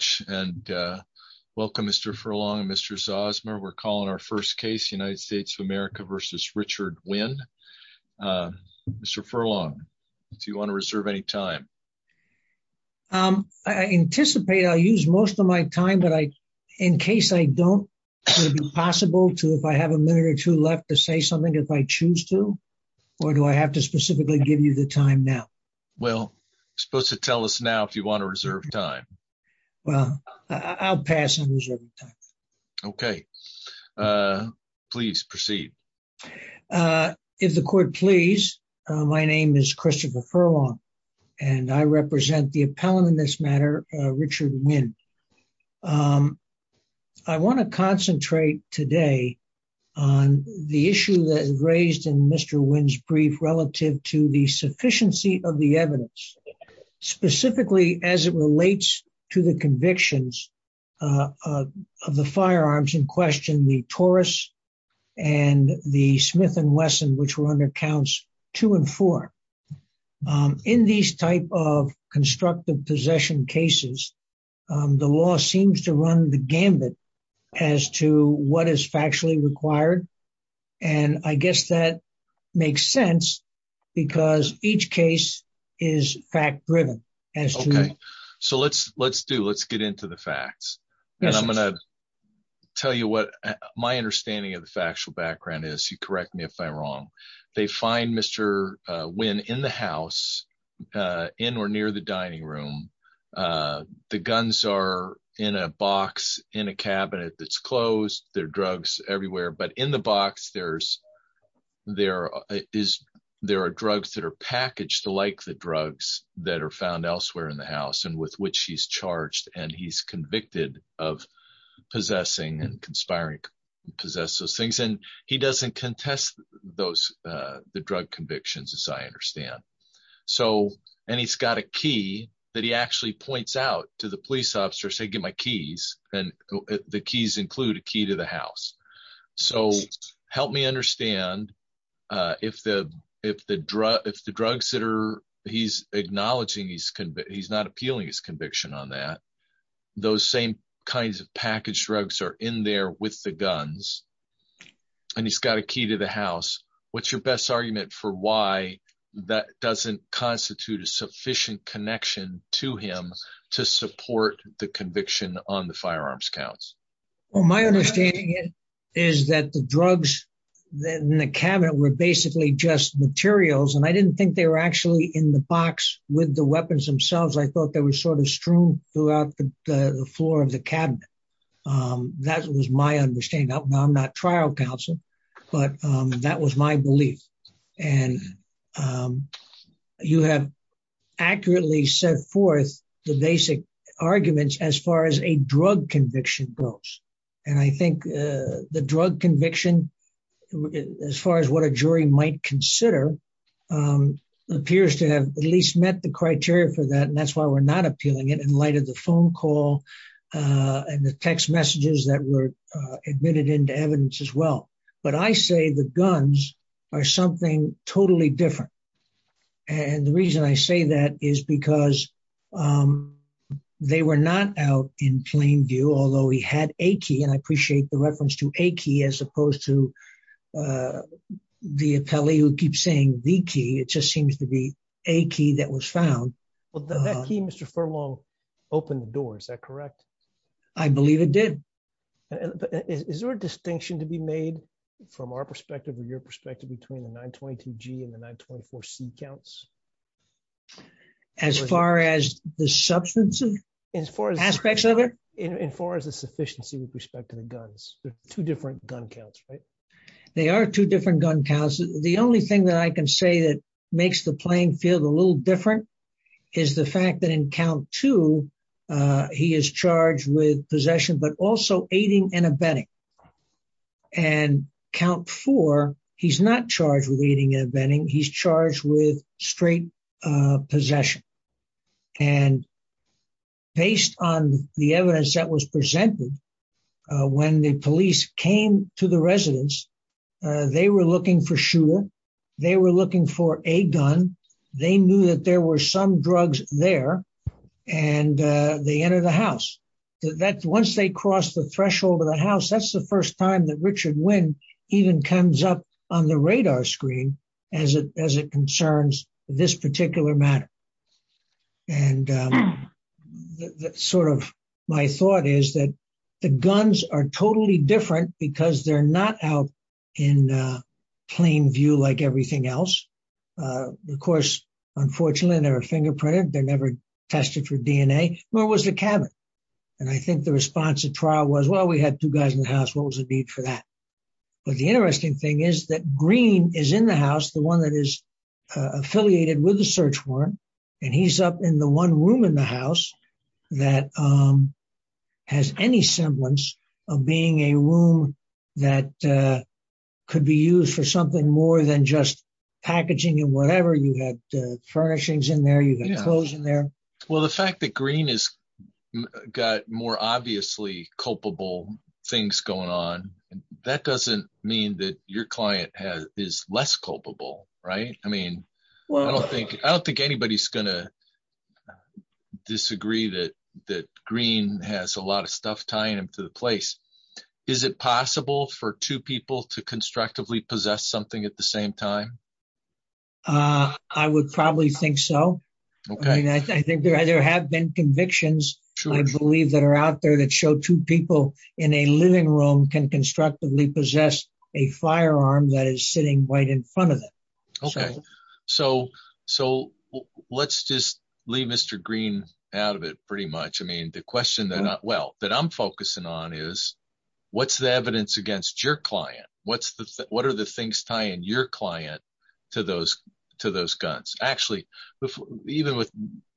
Thank you very much and welcome Mr. Furlong and Mr. Zosmer. We're calling our first case United States of America versus Richard Winn. Mr. Furlong, do you want to reserve any time? I anticipate I'll use most of my time, but in case I don't, would it be possible to, if I have a minute or two left, to say something if I choose to? Or do I have to specifically give you the time now? Well, you're supposed to tell us now if you want to reserve time. Well, I'll pass on reserving time. Okay. Please proceed. If the court please. My name is Christopher Furlong, and I represent the appellant in this matter, Richard Winn. I want to concentrate today on the issue that is raised in Mr. Winn's brief relative to the sufficiency of the evidence, specifically as it relates to the convictions of the firearms in question, the Taurus and the Smith and Wesson, which were under counts two and four. In these type of constructive possession cases, the law seems to run the gambit as to what is factually required. And I guess that makes sense because each case is fact driven. So let's, let's do, let's get into the facts. And I'm going to tell you what my understanding of the factual background is. You correct me if I'm wrong. They find Mr. Winn in the house, in or near the dining room. The guns are in a box in a cabinet that's closed. There are drugs everywhere. But in the box, there's, there is, there are drugs that are packaged like the drugs that are found elsewhere in the house and with which he's charged and he's convicted of possessing and conspiring, possess those things. And he doesn't contest those, the drug convictions, as I understand. So, and he's got a key that he actually points out to the police officer, say, get my keys and the keys include a key to the house. So help me understand if the, if the drug, if the drugs that are, he's acknowledging he's, he's not appealing his conviction on that. Those same kinds of packaged drugs are in there with the guns. And he's got a key to the house. What's your best argument for why that doesn't constitute a sufficient connection to him to support the conviction on the firearms counts. Well, my understanding is that the drugs in the cabinet were basically just materials and I didn't think they were actually in the box with the weapons themselves. I thought they were sort of strewn throughout the floor of the cabinet. That was my understanding. I'm not trial counsel, but that was my belief. And you have accurately set forth the basic arguments as far as a drug conviction goes. And I think the drug conviction, as far as what a jury might consider appears to have at least met the criteria for that. And that's why we're not appealing it in light of the phone call and the text messages that were admitted into evidence as well. But I say the guns are something totally different. And the reason I say that is because they were not out in plain view, although he had a key and I appreciate the reference to a key as opposed to the appellee who keeps saying the key, it just seems to be a key that was found. Mr Furlong opened the door, is that correct? I believe it did. Is there a distinction to be made from our perspective or your perspective between the 922 G and the 924 C counts? As far as the substances? Aspects of it? As far as the sufficiency with respect to the guns. They're two different gun counts, right? They are two different gun counts. The only thing that I can say that makes the playing field a little different is the fact that in count two, he is charged with possession, but also aiding and abetting. And count four, he's not charged with aiding and abetting, he's charged with straight possession. And based on the evidence that was presented, when the police came to the residence, they were looking for shooter. They were looking for a gun. They knew that there were some drugs there and they entered the house. Once they crossed the threshold of the house, that's the first time that Richard Wynn even comes up on the radar screen as it concerns this particular matter. And sort of my thought is that the guns are totally different because they're not out in plain view like everything else. Of course, unfortunately, they're fingerprinted. They're never tested for DNA, nor was the cabin. And I think the response at trial was, well, we had two guys in the house. What was the need for that? But the interesting thing is that Green is in the house, the one that is affiliated with the search warrant, and he's up in the one room in the house that has any semblance of being a room that could be used for something more than just packaging and whatever. You had furnishings in there, you had clothes in there. Well, the fact that Green has got more obviously culpable things going on, that doesn't mean that your client is less culpable. I don't think anybody's going to disagree that Green has a lot of stuff tying him to the place. Is it possible for two people to constructively possess something at the same time? I would probably think so. I think there have been convictions, I believe, that are out there that show two people in a living room can constructively possess a firearm that is sitting right in front of them. Okay. So let's just leave Mr. Green out of it pretty much. I mean, the question that I'm focusing on is, what's the evidence against your client? What are the things tying your client to those guns? Actually, even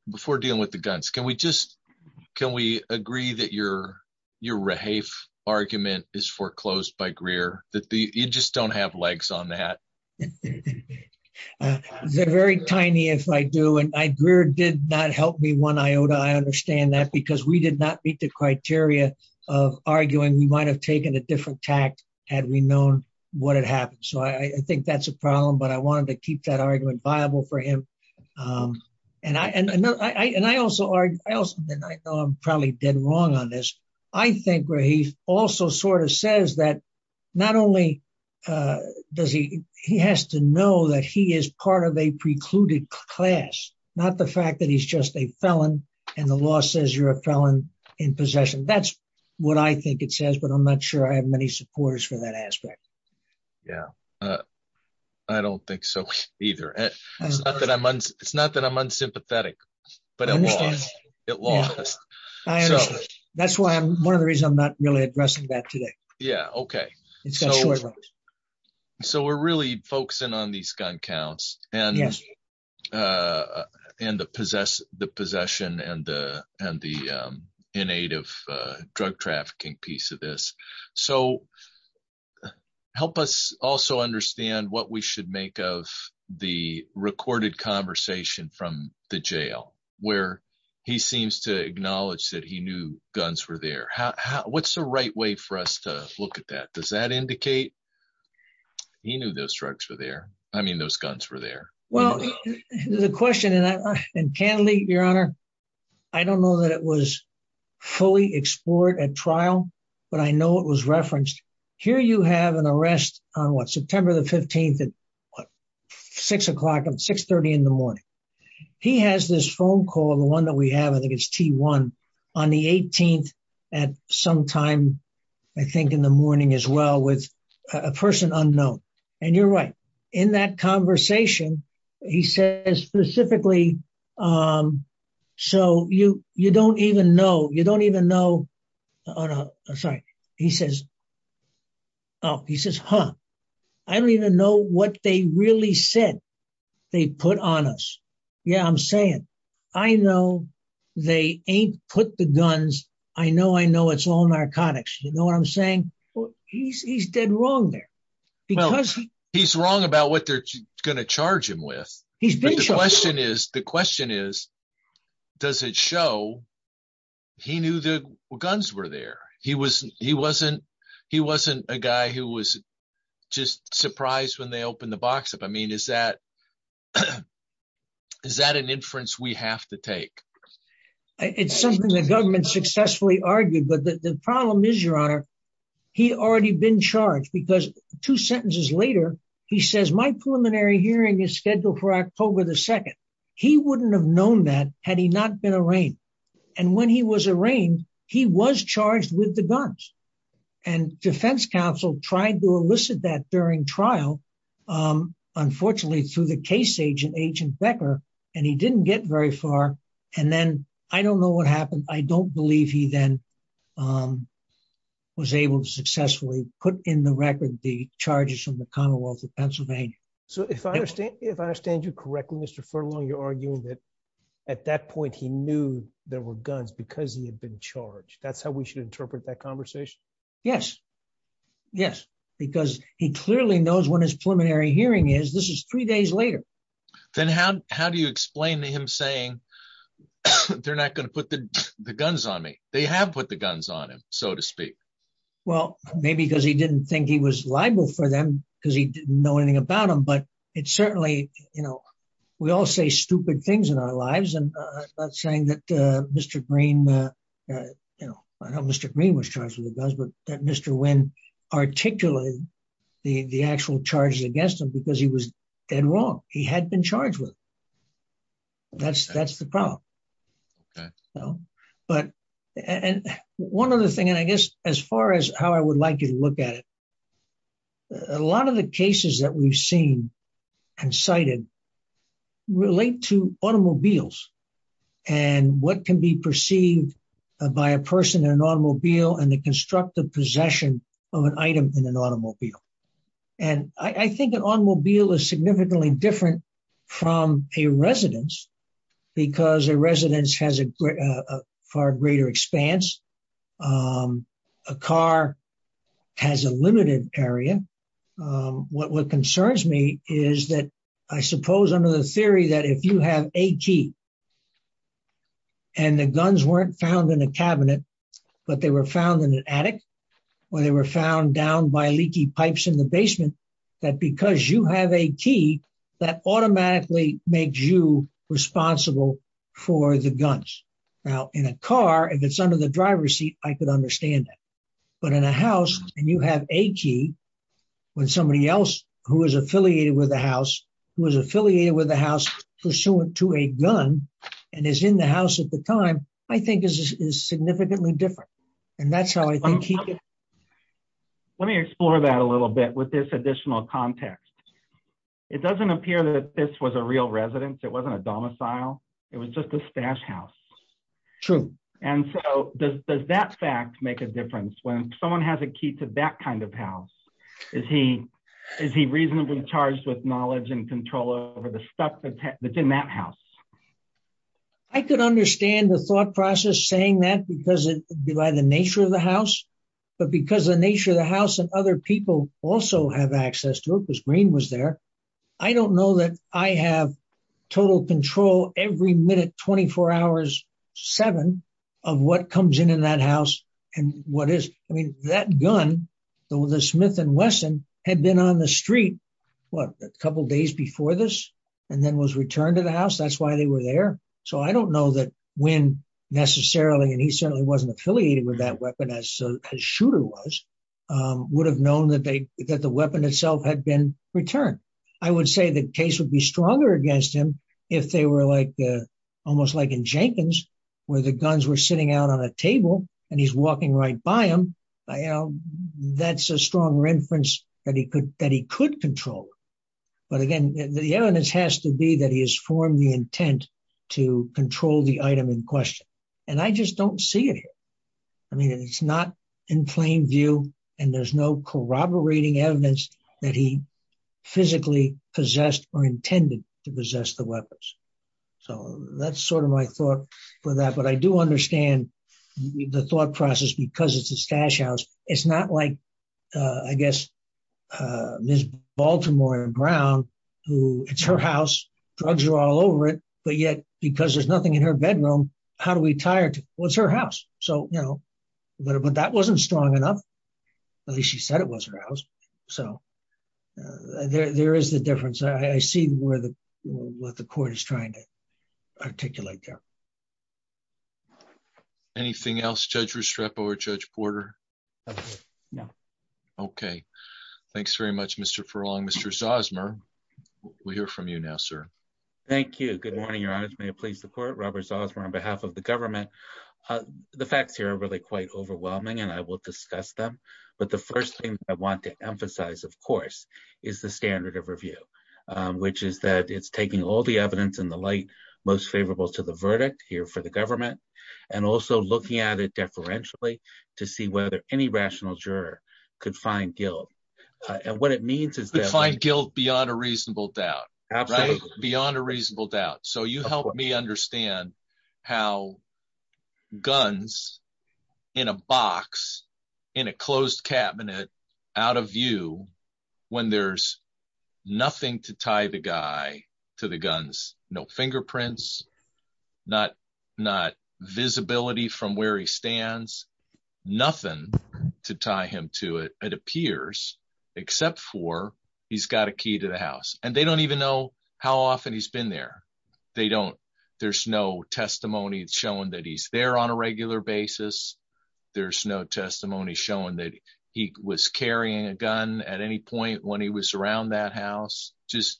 before dealing with the guns, can we agree that your Rahafe argument is foreclosed by Greer, that you just don't have legs on that? They're very tiny if I do, and Greer did not help me one iota. I understand that because we did not meet the criteria of arguing. We might have taken a different tact had we known what had happened. So I think that's a problem, but I wanted to keep that argument viable for him. And I know I'm probably dead wrong on this. I think Rahafe also sort of says that not only does he, he has to know that he is part of a precluded class, not the fact that he's just a felon and the law says you're a felon in possession. That's what I think it says, but I'm not sure I have many supporters for that aspect. Yeah, I don't think so either. It's not that I'm unsympathetic, but it lost. That's one of the reasons I'm not really addressing that today. Yeah, okay. So we're really focusing on these gun counts and the possession and the innate of drug trafficking piece of this. So help us also understand what we should make of the recorded conversation from the jail where he seems to acknowledge that he knew guns were there. What's the right way for us to look at that? Does that indicate he knew those drugs were there? I mean, those guns were there. Well, the question, and candidly, Your Honor, I don't know that it was fully explored at trial, but I know it was referenced. Here you have an arrest on, what, September the 15th at 6 o'clock, 6.30 in the morning. He has this phone call, the one that we have, I think it's T1, on the 18th at some time, I think in the morning as well with a person unknown. And you're right, in that conversation, he says specifically, so you don't even know, you don't even know, oh, no, sorry. He says, oh, he says, huh, I don't even know what they really said they put on us. Yeah, I'm saying, I know they ain't put the guns. I know, I know it's all narcotics. You know what I'm saying? He's dead wrong there. Well, he's wrong about what they're going to charge him with. The question is, does it show he knew the guns were there? He wasn't a guy who was just surprised when they opened the box up. I mean, is that an inference we have to take? It's something the government successfully argued, but the problem is, Your Honor, he already been charged because two sentences later, he says, my preliminary hearing is scheduled for October the 2nd. He wouldn't have known that had he not been arraigned. And when he was arraigned, he was charged with the guns. And defense counsel tried to elicit that during trial, unfortunately, through the case agent, Agent Becker, and he didn't get very far. And then I don't know what happened. I don't believe he then was able to successfully put in the record the charges from the Commonwealth of Pennsylvania. So if I understand, if I understand you correctly, Mr. Furlong, you're arguing that at that point, he knew there were guns because he had been charged. That's how we should interpret that conversation. Yes. Yes. Because he clearly knows when his preliminary hearing is. This is three days later. Then how do you explain to him saying they're not going to put the guns on me? They have put the guns on him, so to speak. Well, maybe because he didn't think he was liable for them because he didn't know anything about them. But it's certainly, you know, we all say stupid things in our lives. And that's saying that Mr. Green, you know, I know Mr. Green was charged with the guns, but that Mr. Wynn articulated the actual charges against him because he was dead wrong. He had been charged with. That's that's the problem. Okay. I think that the questions that I've been. And cited. Relate to automobiles. And what can be perceived. By a person in an automobile and the constructive possession of an item in an automobile. And I think an automobile is significantly different from a residence. Because a residence has a far greater expanse. A car has a limited area. What concerns me is that I suppose under the theory that if you have a key. And the guns weren't found in a cabinet, but they were found in an attic. Or they were found down by leaky pipes in the basement. That because you have a key that automatically makes you responsible for the guns. Now, in a car, if it's under the driver's seat, I could understand that. But in a house and you have a key. When somebody else who is affiliated with the house, who is affiliated with the house pursuant to a gun and is in the house at the time, I think is significantly different. And that's how I think. Let me explore that a little bit with this additional context. It doesn't appear that this was a real residence. It wasn't a domicile. It was just a stash house. True. And so does that fact make a difference when someone has a key to that kind of house? Is he reasonably charged with knowledge and control over the stuff that's in that house? I could understand the thought process saying that because of the nature of the house. But because the nature of the house and other people also have access to it, because Green was there. I don't know that I have total control every minute, 24 hours, seven of what comes in in that house. And what is that gun? The Smith and Wesson had been on the street a couple of days before this and then was returned to the house. That's why they were there. So I don't know that when necessarily, and he certainly wasn't affiliated with that weapon as a shooter was, would have known that the weapon itself had been returned. I would say the case would be stronger against him if they were like, almost like in Jenkins, where the guns were sitting out on a table and he's walking right by him. That's a strong reference that he could control. But again, the evidence has to be that he has formed the intent to control the item in question. And I just don't see it here. I mean, it's not in plain view and there's no corroborating evidence that he physically possessed or intended to possess the weapons. So that's sort of my thought for that. But I do understand the thought process because it's a stash house. It's not like, I guess, Ms. Baltimore and Brown, who it's her house, drugs are all over it. But yet, because there's nothing in her bedroom, how do we tie her to it? Well, it's her house. But that wasn't strong enough. At least she said it was her house. So there is the difference. I see what the court is trying to articulate there. Anything else, Judge Restrepo or Judge Porter? No. Okay. Thanks very much, Mr. Furlong. Mr. Zosmer, we'll hear from you now, sir. Thank you. Good morning, Your Honor. May it please the court, Robert Zosmer on behalf of the government. The facts here are really quite overwhelming and I will discuss them. But the first thing I want to emphasize, of course, is the standard of review, which is that it's taking all the evidence in the light most favorable to the verdict here for the government. And also looking at it deferentially to see whether any rational juror could find guilt. And what it means is that… Find guilt beyond a reasonable doubt. Beyond a reasonable doubt. So you help me understand how guns in a box in a closed cabinet out of view when there's nothing to tie the guy to the guns. No fingerprints. Not visibility from where he stands. Nothing to tie him to it, it appears, except for he's got a key to the house. And they don't even know how often he's been there. They don't… There's no testimony showing that he's there on a regular basis. There's no testimony showing that he was carrying a gun at any point when he was around that house. Just…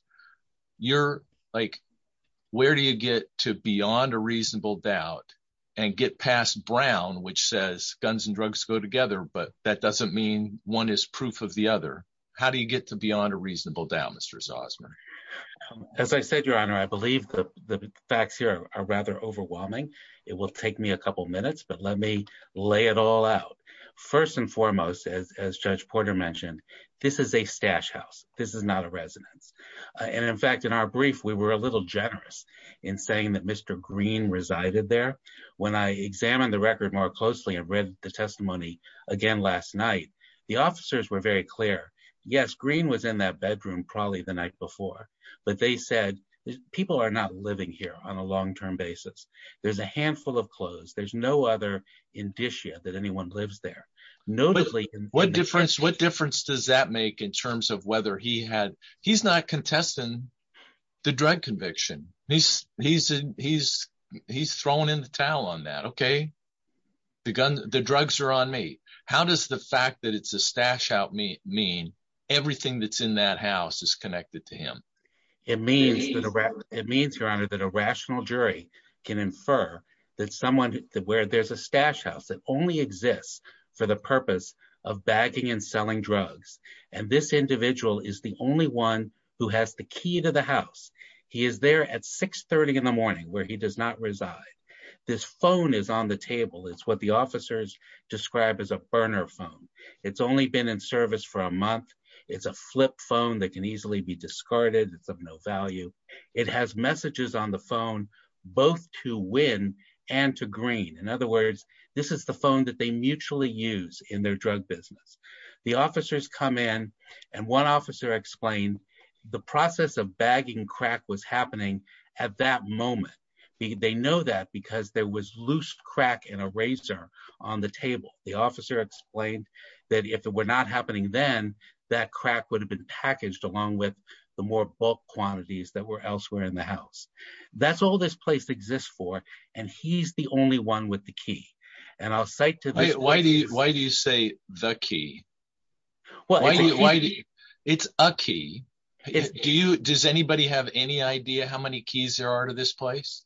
You're like… Where do you get to beyond a reasonable doubt and get past Brown, which says guns and drugs go together, but that doesn't mean one is proof of the other? How do you get to beyond a reasonable doubt, Mr. Zosmer? As I said, Your Honor, I believe the facts here are rather overwhelming. It will take me a couple minutes, but let me lay it all out. First and foremost, as Judge Porter mentioned, this is a stash house. This is not a residence. And in fact, in our brief, we were a little generous in saying that Mr. Green resided there. When I examined the record more closely and read the testimony again last night, the officers were very clear. Yes, Green was in that bedroom probably the night before, but they said people are not living here on a long-term basis. There's a handful of clothes. There's no other indicia that anyone lives there. What difference does that make in terms of whether he had… He's not contesting the drug conviction. He's thrown in the towel on that, okay? The drugs are on me. How does the fact that it's a stash house mean everything that's in that house is connected to him? It means, Your Honor, that a rational jury can infer that someone where there's a stash house that only exists for the purpose of bagging and selling drugs. And this individual is the only one who has the key to the house. He is there at 630 in the morning where he does not reside. This phone is on the table. It's what the officers describe as a burner phone. It's only been in service for a month. It's a flip phone that can easily be discarded. It's of no value. It has messages on the phone both to win and to Green. In other words, this is the phone that they mutually use in their drug business. The officers come in and one officer explained the process of bagging crack was happening at that moment. They know that because there was loose crack in a razor on the table. The officer explained that if it were not happening then, that crack would have been packaged along with the more bulk quantities that were elsewhere in the house. That's all this place exists for. And he's the only one with the key. And I'll cite to this. Why do you say the key? It's a key. Does anybody have any idea how many keys there are to this place?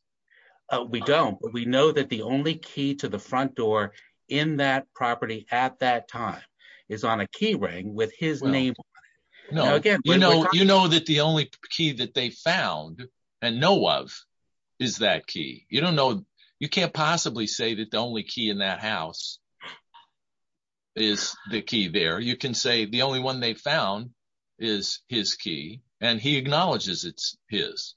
We don't. We know that the only key to the front door in that property at that time is on a key ring with his name on it. You know that the only key that they found and know of is that key. You don't know. You can't possibly say that the only key in that house is the key there. You can say the only one they found is his key and he acknowledges it's his.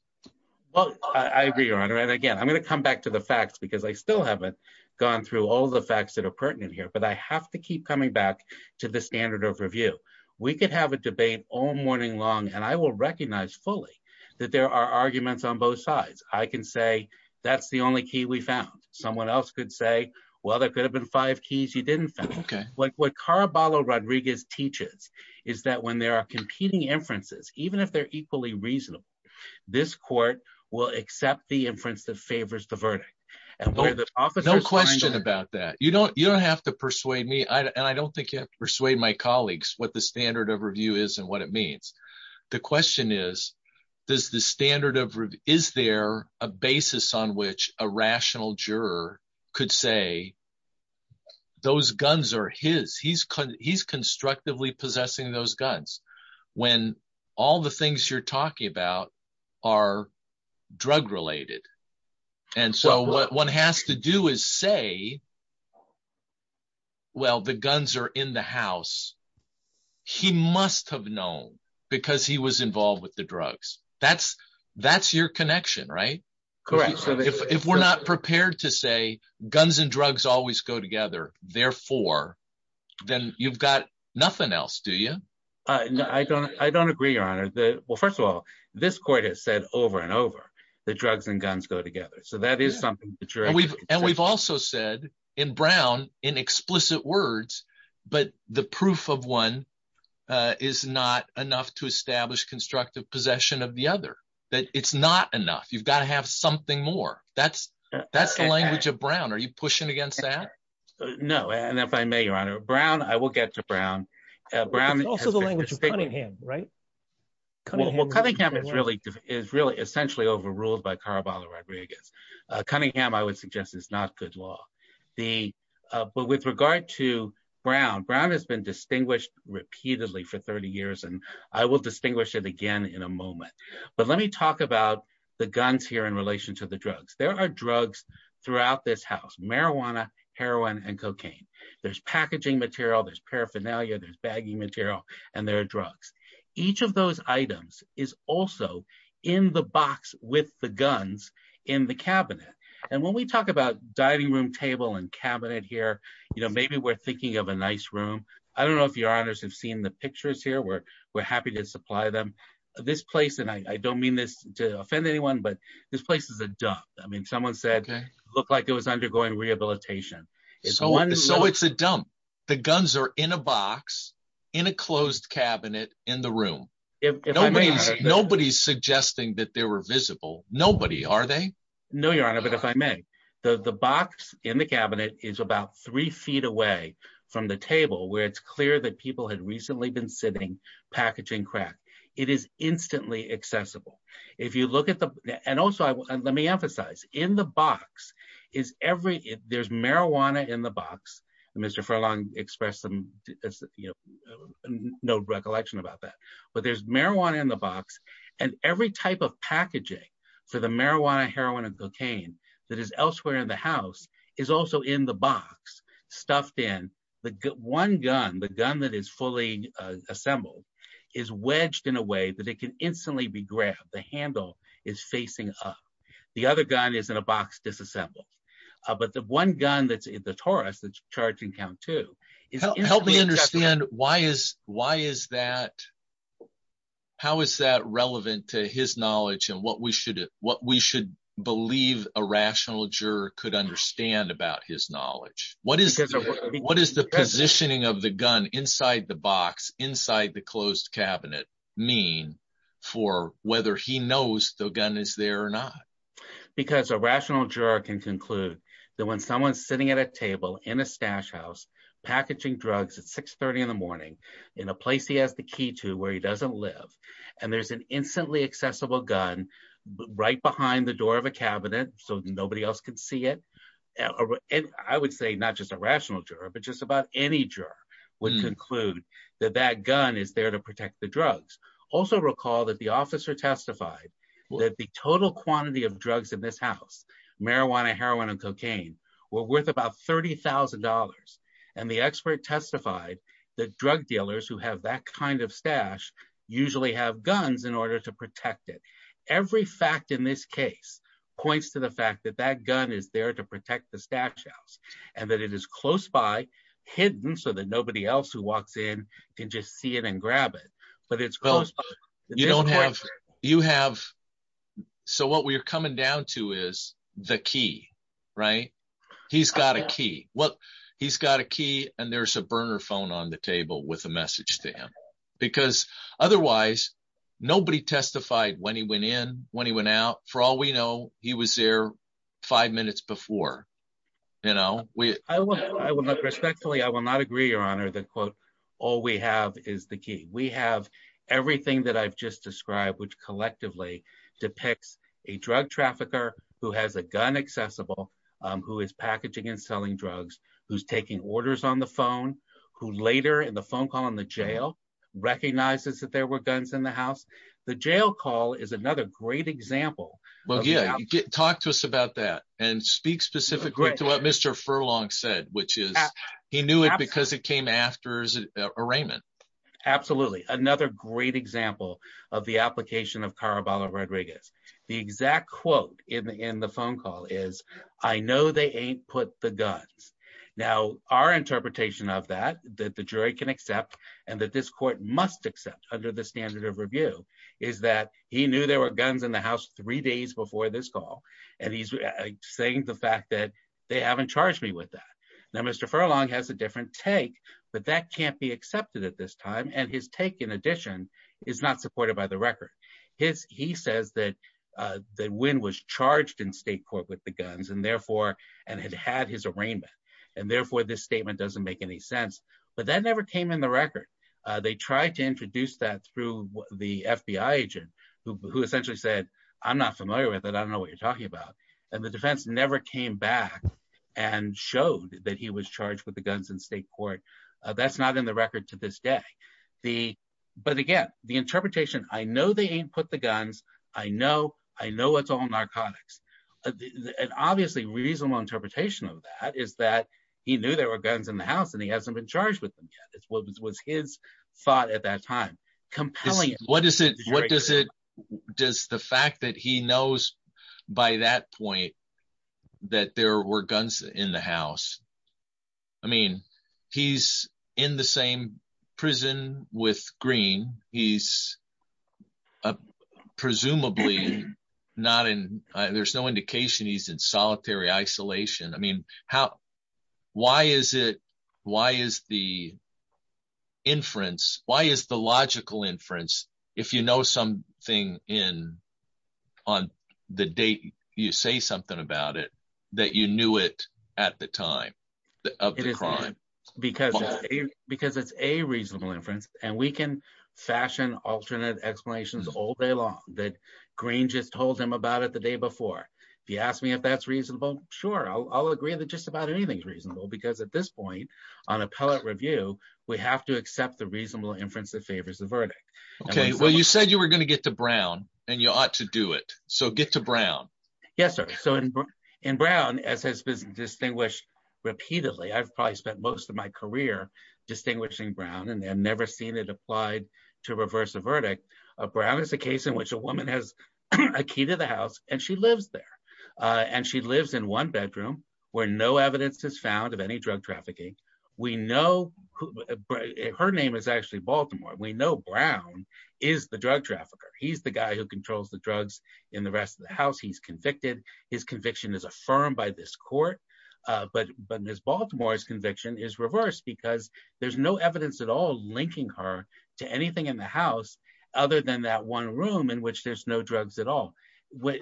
Well, I agree, Your Honor. And again, I'm going to come back to the facts because I still haven't gone through all the facts that are pertinent here. But I have to keep coming back to the standard of review. We could have a debate all morning long and I will recognize fully that there are arguments on both sides. I can say that's the only key we found. Someone else could say, well, there could have been five keys you didn't find. What Caraballo Rodriguez teaches is that when there are competing inferences, even if they're equally reasonable, this court will accept the inference that favors the verdict. No question about that. You don't have to persuade me and I don't think you have to persuade my colleagues what the standard of review is and what it means. The question is, is there a basis on which a rational juror could say those guns are his? He's constructively possessing those guns when all the things you're talking about are drug related. And so what one has to do is say, well, the guns are in the house. He must have known because he was involved with the drugs. That's your connection, right? Correct. If we're not prepared to say guns and drugs always go together, therefore, then you've got nothing else, do you? I don't agree, Your Honor. Well, first of all, this court has said over and over that drugs and guns go together. And we've also said in Brown, in explicit words, but the proof of one is not enough to establish constructive possession of the other. It's not enough. You've got to have something more. That's the language of Brown. Are you pushing against that? No. And if I may, Your Honor, Brown, I will get to Brown. It's also the language of Cunningham, right? Well, Cunningham is really essentially overruled by Caraballo Rodriguez. Cunningham, I would suggest, is not good law. But with regard to Brown, Brown has been distinguished repeatedly for 30 years, and I will distinguish it again in a moment. But let me talk about the guns here in relation to the drugs. There are drugs throughout this house. Marijuana, heroin, and cocaine. There's packaging material, there's paraphernalia, there's bagging material, and there are drugs. Each of those items is also in the box with the guns in the cabinet. And when we talk about dining room table and cabinet here, maybe we're thinking of a nice room. I don't know if Your Honors have seen the pictures here. We're happy to supply them. This place, and I don't mean this to offend anyone, but this place is a dump. I mean, someone said it looked like it was undergoing rehabilitation. So it's a dump. The guns are in a box, in a closed cabinet, in the room. Nobody's suggesting that they were visible. Nobody, are they? No, Your Honor, but if I may, the box in the cabinet is about three feet away from the table where it's clear that people had recently been sitting, packaging crack. It is instantly accessible. And also, let me emphasize, in the box, there's marijuana in the box. Mr. Furlong expressed no recollection about that. But there's marijuana in the box, and every type of packaging for the marijuana, heroin, and cocaine that is elsewhere in the house is also in the box, stuffed in. The one gun, the gun that is fully assembled, is wedged in a way that it can instantly be grabbed. The handle is facing up. The other gun is in a box, disassembled. But the one gun that's in the Taurus, that's charging count two, is instantly accessible. Help me understand, why is that, how is that relevant to his knowledge and what we should believe a rational juror could understand about his knowledge? What is the positioning of the gun inside the box, inside the closed cabinet, mean for whether he knows the gun is there or not? Because a rational juror can conclude that when someone's sitting at a table in a stash house, packaging drugs at 630 in the morning, in a place he has the key to where he doesn't live, and there's an instantly accessible gun right behind the door of a cabinet so nobody else could see it, I would say not just a rational juror, but just about any juror would conclude that that gun is there to protect the drugs. Also recall that the officer testified that the total quantity of drugs in this house, marijuana, heroin, and cocaine, were worth about $30,000. And the expert testified that drug dealers who have that kind of stash usually have guns in order to protect it. Every fact in this case points to the fact that that gun is there to protect the stash house, and that it is close by, hidden so that nobody else who walks in can just see it and grab it. So what we're coming down to is the key, right? He's got a key, and there's a burner phone on the table with a message to him. Because otherwise, nobody testified when he went in, when he went out. For all we know, he was there five minutes before. Respectfully, I will not agree, Your Honor, that quote, all we have is the key. We have everything that I've just described, which collectively depicts a drug trafficker who has a gun accessible, who is packaging and selling drugs, who's taking orders on the phone, who later in the phone call in the jail recognizes that there were guns in the house. The jail call is another great example. Well, yeah, talk to us about that and speak specifically to what Mr. Furlong said, which is he knew it because it came after his arraignment. Absolutely. Another great example of the application of Caraballo-Rodriguez. The exact quote in the phone call is, I know they ain't put the guns. Now, our interpretation of that, that the jury can accept and that this court must accept under the standard of review, is that he knew there were guns in the house three days before this call, and he's saying the fact that they haven't charged me with that. Now, Mr. Furlong has a different take, but that can't be accepted at this time, and his take, in addition, is not supported by the record. He says that Wynn was charged in state court with the guns and had had his arraignment, and therefore this statement doesn't make any sense, but that never came in the record. They tried to introduce that through the FBI agent, who essentially said, I'm not familiar with it, I don't know what you're talking about. And the defense never came back and showed that he was charged with the guns in state court. That's not in the record to this day. But again, the interpretation, I know they ain't put the guns, I know it's all narcotics. An obviously reasonable interpretation of that is that he knew there were guns in the house and he hasn't been charged with them yet, was his thought at that time. What does it, does the fact that he knows by that point that there were guns in the house, I mean, he's in the same prison with Green, he's presumably not in, there's no indication he's in solitary isolation. I mean, how, why is it, why is the inference, why is the logical inference, if you know something in, on the date you say something about it, that you knew it at the time of the crime? Because it's a reasonable inference, and we can fashion alternate explanations all day long that Green just told him about it the day before. If you ask me if that's reasonable, sure, I'll agree that just about anything's reasonable, because at this point, on appellate review, we have to accept the reasonable inference that favors the verdict. Okay, well you said you were going to get to Brown, and you ought to do it, so get to Brown. Yes, sir. So in Brown, as has been distinguished repeatedly, I've probably spent most of my career distinguishing Brown, and I've never seen it applied to reverse a verdict. Brown is a case in which a woman has a key to the house, and she lives there. And she lives in one bedroom, where no evidence is found of any drug trafficking. Her name is actually Baltimore. We know Brown is the drug trafficker. He's the guy who controls the drugs in the rest of the house. He's convicted. His conviction is affirmed by this court. But Ms. Baltimore's conviction is reversed, because there's no evidence at all linking her to anything in the house, other than that one room in which there's no drugs at all.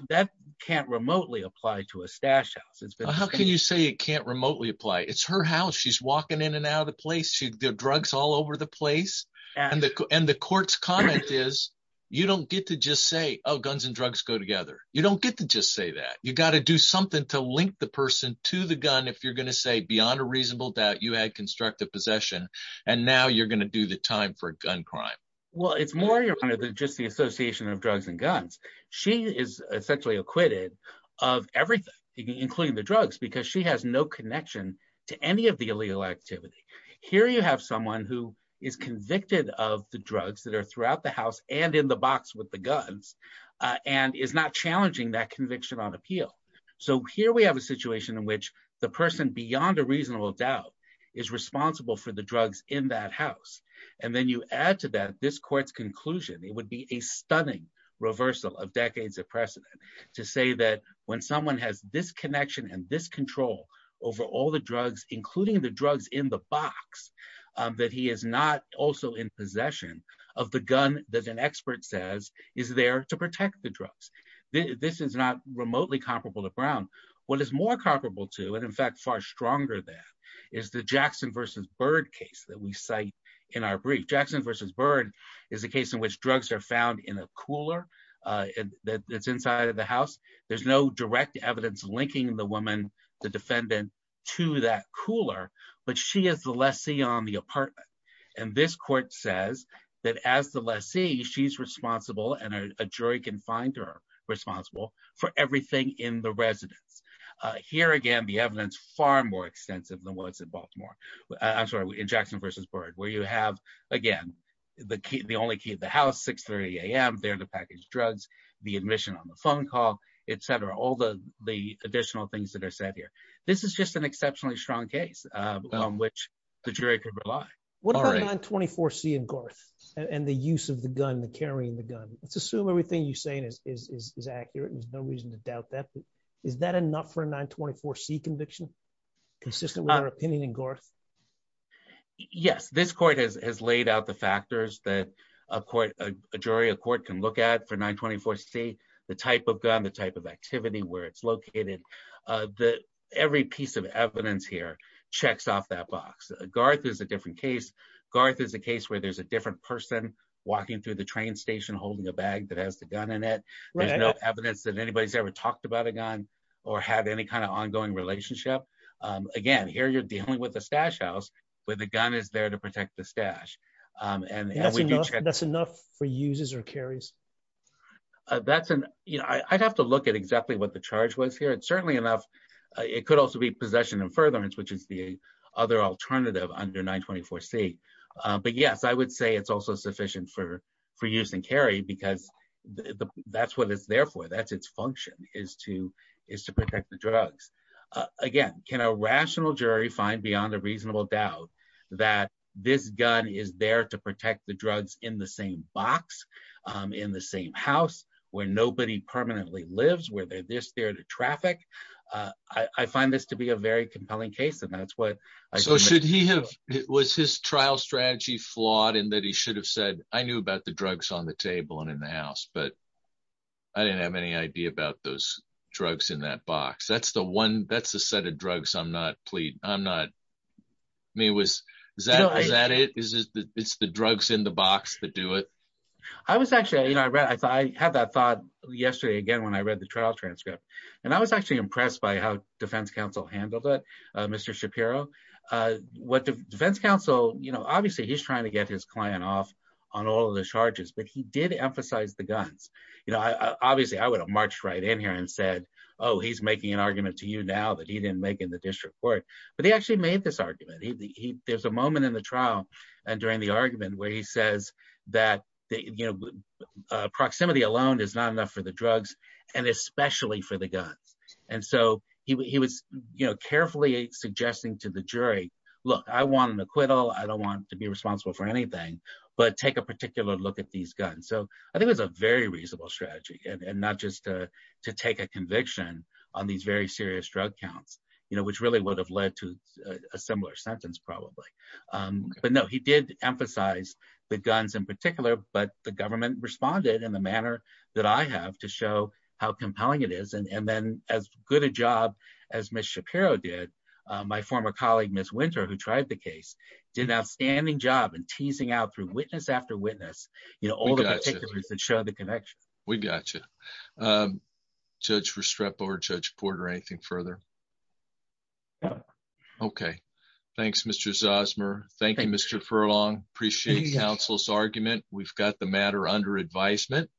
That can't remotely apply to a stash house. How can you say it can't remotely apply? It's her house. She's walking in and out of the place. There are drugs all over the place. And the court's comment is, you don't get to just say, oh, guns and drugs go together. You don't get to just say that. You've got to do something to link the person to the gun if you're going to say, beyond a reasonable doubt, you had constructive possession, and now you're going to do the time for a gun crime. Well, it's more than just the association of drugs and guns. She is essentially acquitted of everything, including the drugs, because she has no connection to any of the illegal activity. Here you have someone who is convicted of the drugs that are throughout the house and in the box with the guns, and is not challenging that conviction on appeal. So here we have a situation in which the person, beyond a reasonable doubt, is responsible for the drugs in that house. And then you add to that this court's conclusion. It would be a stunning reversal of decades of precedent to say that when someone has this connection and this control over all the drugs, including the drugs in the box, that he is not also in possession of the gun that an expert says is there to protect the drugs. This is not remotely comparable to Brown. What is more comparable to, and in fact far stronger than, is the Jackson versus Bird case that we cite in our brief. Jackson versus Bird is a case in which drugs are found in a cooler that's inside of the house. There's no direct evidence linking the woman, the defendant, to that cooler, but she is the lessee on the apartment. And this court says that as the lessee, she's responsible, and a jury can find her responsible, for everything in the residence. Here again, the evidence is far more extensive than what's in Jackson versus Bird, where you have, again, the only key to the house, 630 a.m., there are the packaged drugs, the admission on the phone call, etc. All the additional things that are said here. This is just an exceptionally strong case on which the jury could rely. What about 924C and Garth, and the use of the gun, the carrying the gun? Let's assume everything you're saying is accurate, and there's no reason to doubt that, but is that enough for a 924C conviction, consistent with our opinion in Garth? Yes, this court has laid out the factors that a jury, a court can look at for 924C, the type of gun, the type of activity, where it's located. Every piece of evidence here checks off that box. Garth is a different case. Garth is a case where there's a different person walking through the train station holding a bag that has the gun in it. There's no evidence that anybody's ever talked about a gun, or had any kind of ongoing relationship. Again, here you're dealing with a stash house, where the gun is there to protect the stash. That's enough for uses or carries? I'd have to look at exactly what the charge was here, and certainly enough, it could also be possession and furtherance, which is the other alternative under 924C. But yes, I would say it's also sufficient for use and carry, because that's what it's there for. That's its function, is to protect the drugs. Again, can a rational jury find beyond a reasonable doubt that this gun is there to protect the drugs in the same box, in the same house, where nobody permanently lives, where there's this there to traffic? I find this to be a very compelling case, and that's what… So should he have… was his trial strategy flawed in that he should have said, I knew about the drugs on the table and in the house, but I didn't have any idea about those drugs in that box? That's a set of drugs I'm not… I mean, is that it? It's the drugs in the box that do it? I was actually… I had that thought yesterday again when I read the trial transcript, and I was actually impressed by how defense counsel handled it, Mr. Shapiro. What defense counsel… obviously, he's trying to get his client off on all of the charges, but he did emphasize the guns. Obviously, I would have marched right in here and said, oh, he's making an argument to you now that he didn't make in the district court, but he actually made this argument. There's a moment in the trial and during the argument where he says that proximity alone is not enough for the drugs, and especially for the guns. And so he was carefully suggesting to the jury, look, I want an acquittal. I don't want to be responsible for anything, but take a particular look at these guns. And so I think it was a very reasonable strategy, and not just to take a conviction on these very serious drug counts, which really would have led to a similar sentence probably. But no, he did emphasize the guns in particular, but the government responded in the manner that I have to show how compelling it is. And then as good a job as Ms. Shapiro did, my former colleague, Ms. Winter, who tried the case, did an outstanding job in teasing out through witness after witness all the… We got you. Judge Restrepo or Judge Porter, anything further? No. Okay. Thanks, Mr. Zosmer. Thank you, Mr. Furlong. Appreciate the counsel's argument. We've got the matter under advisement.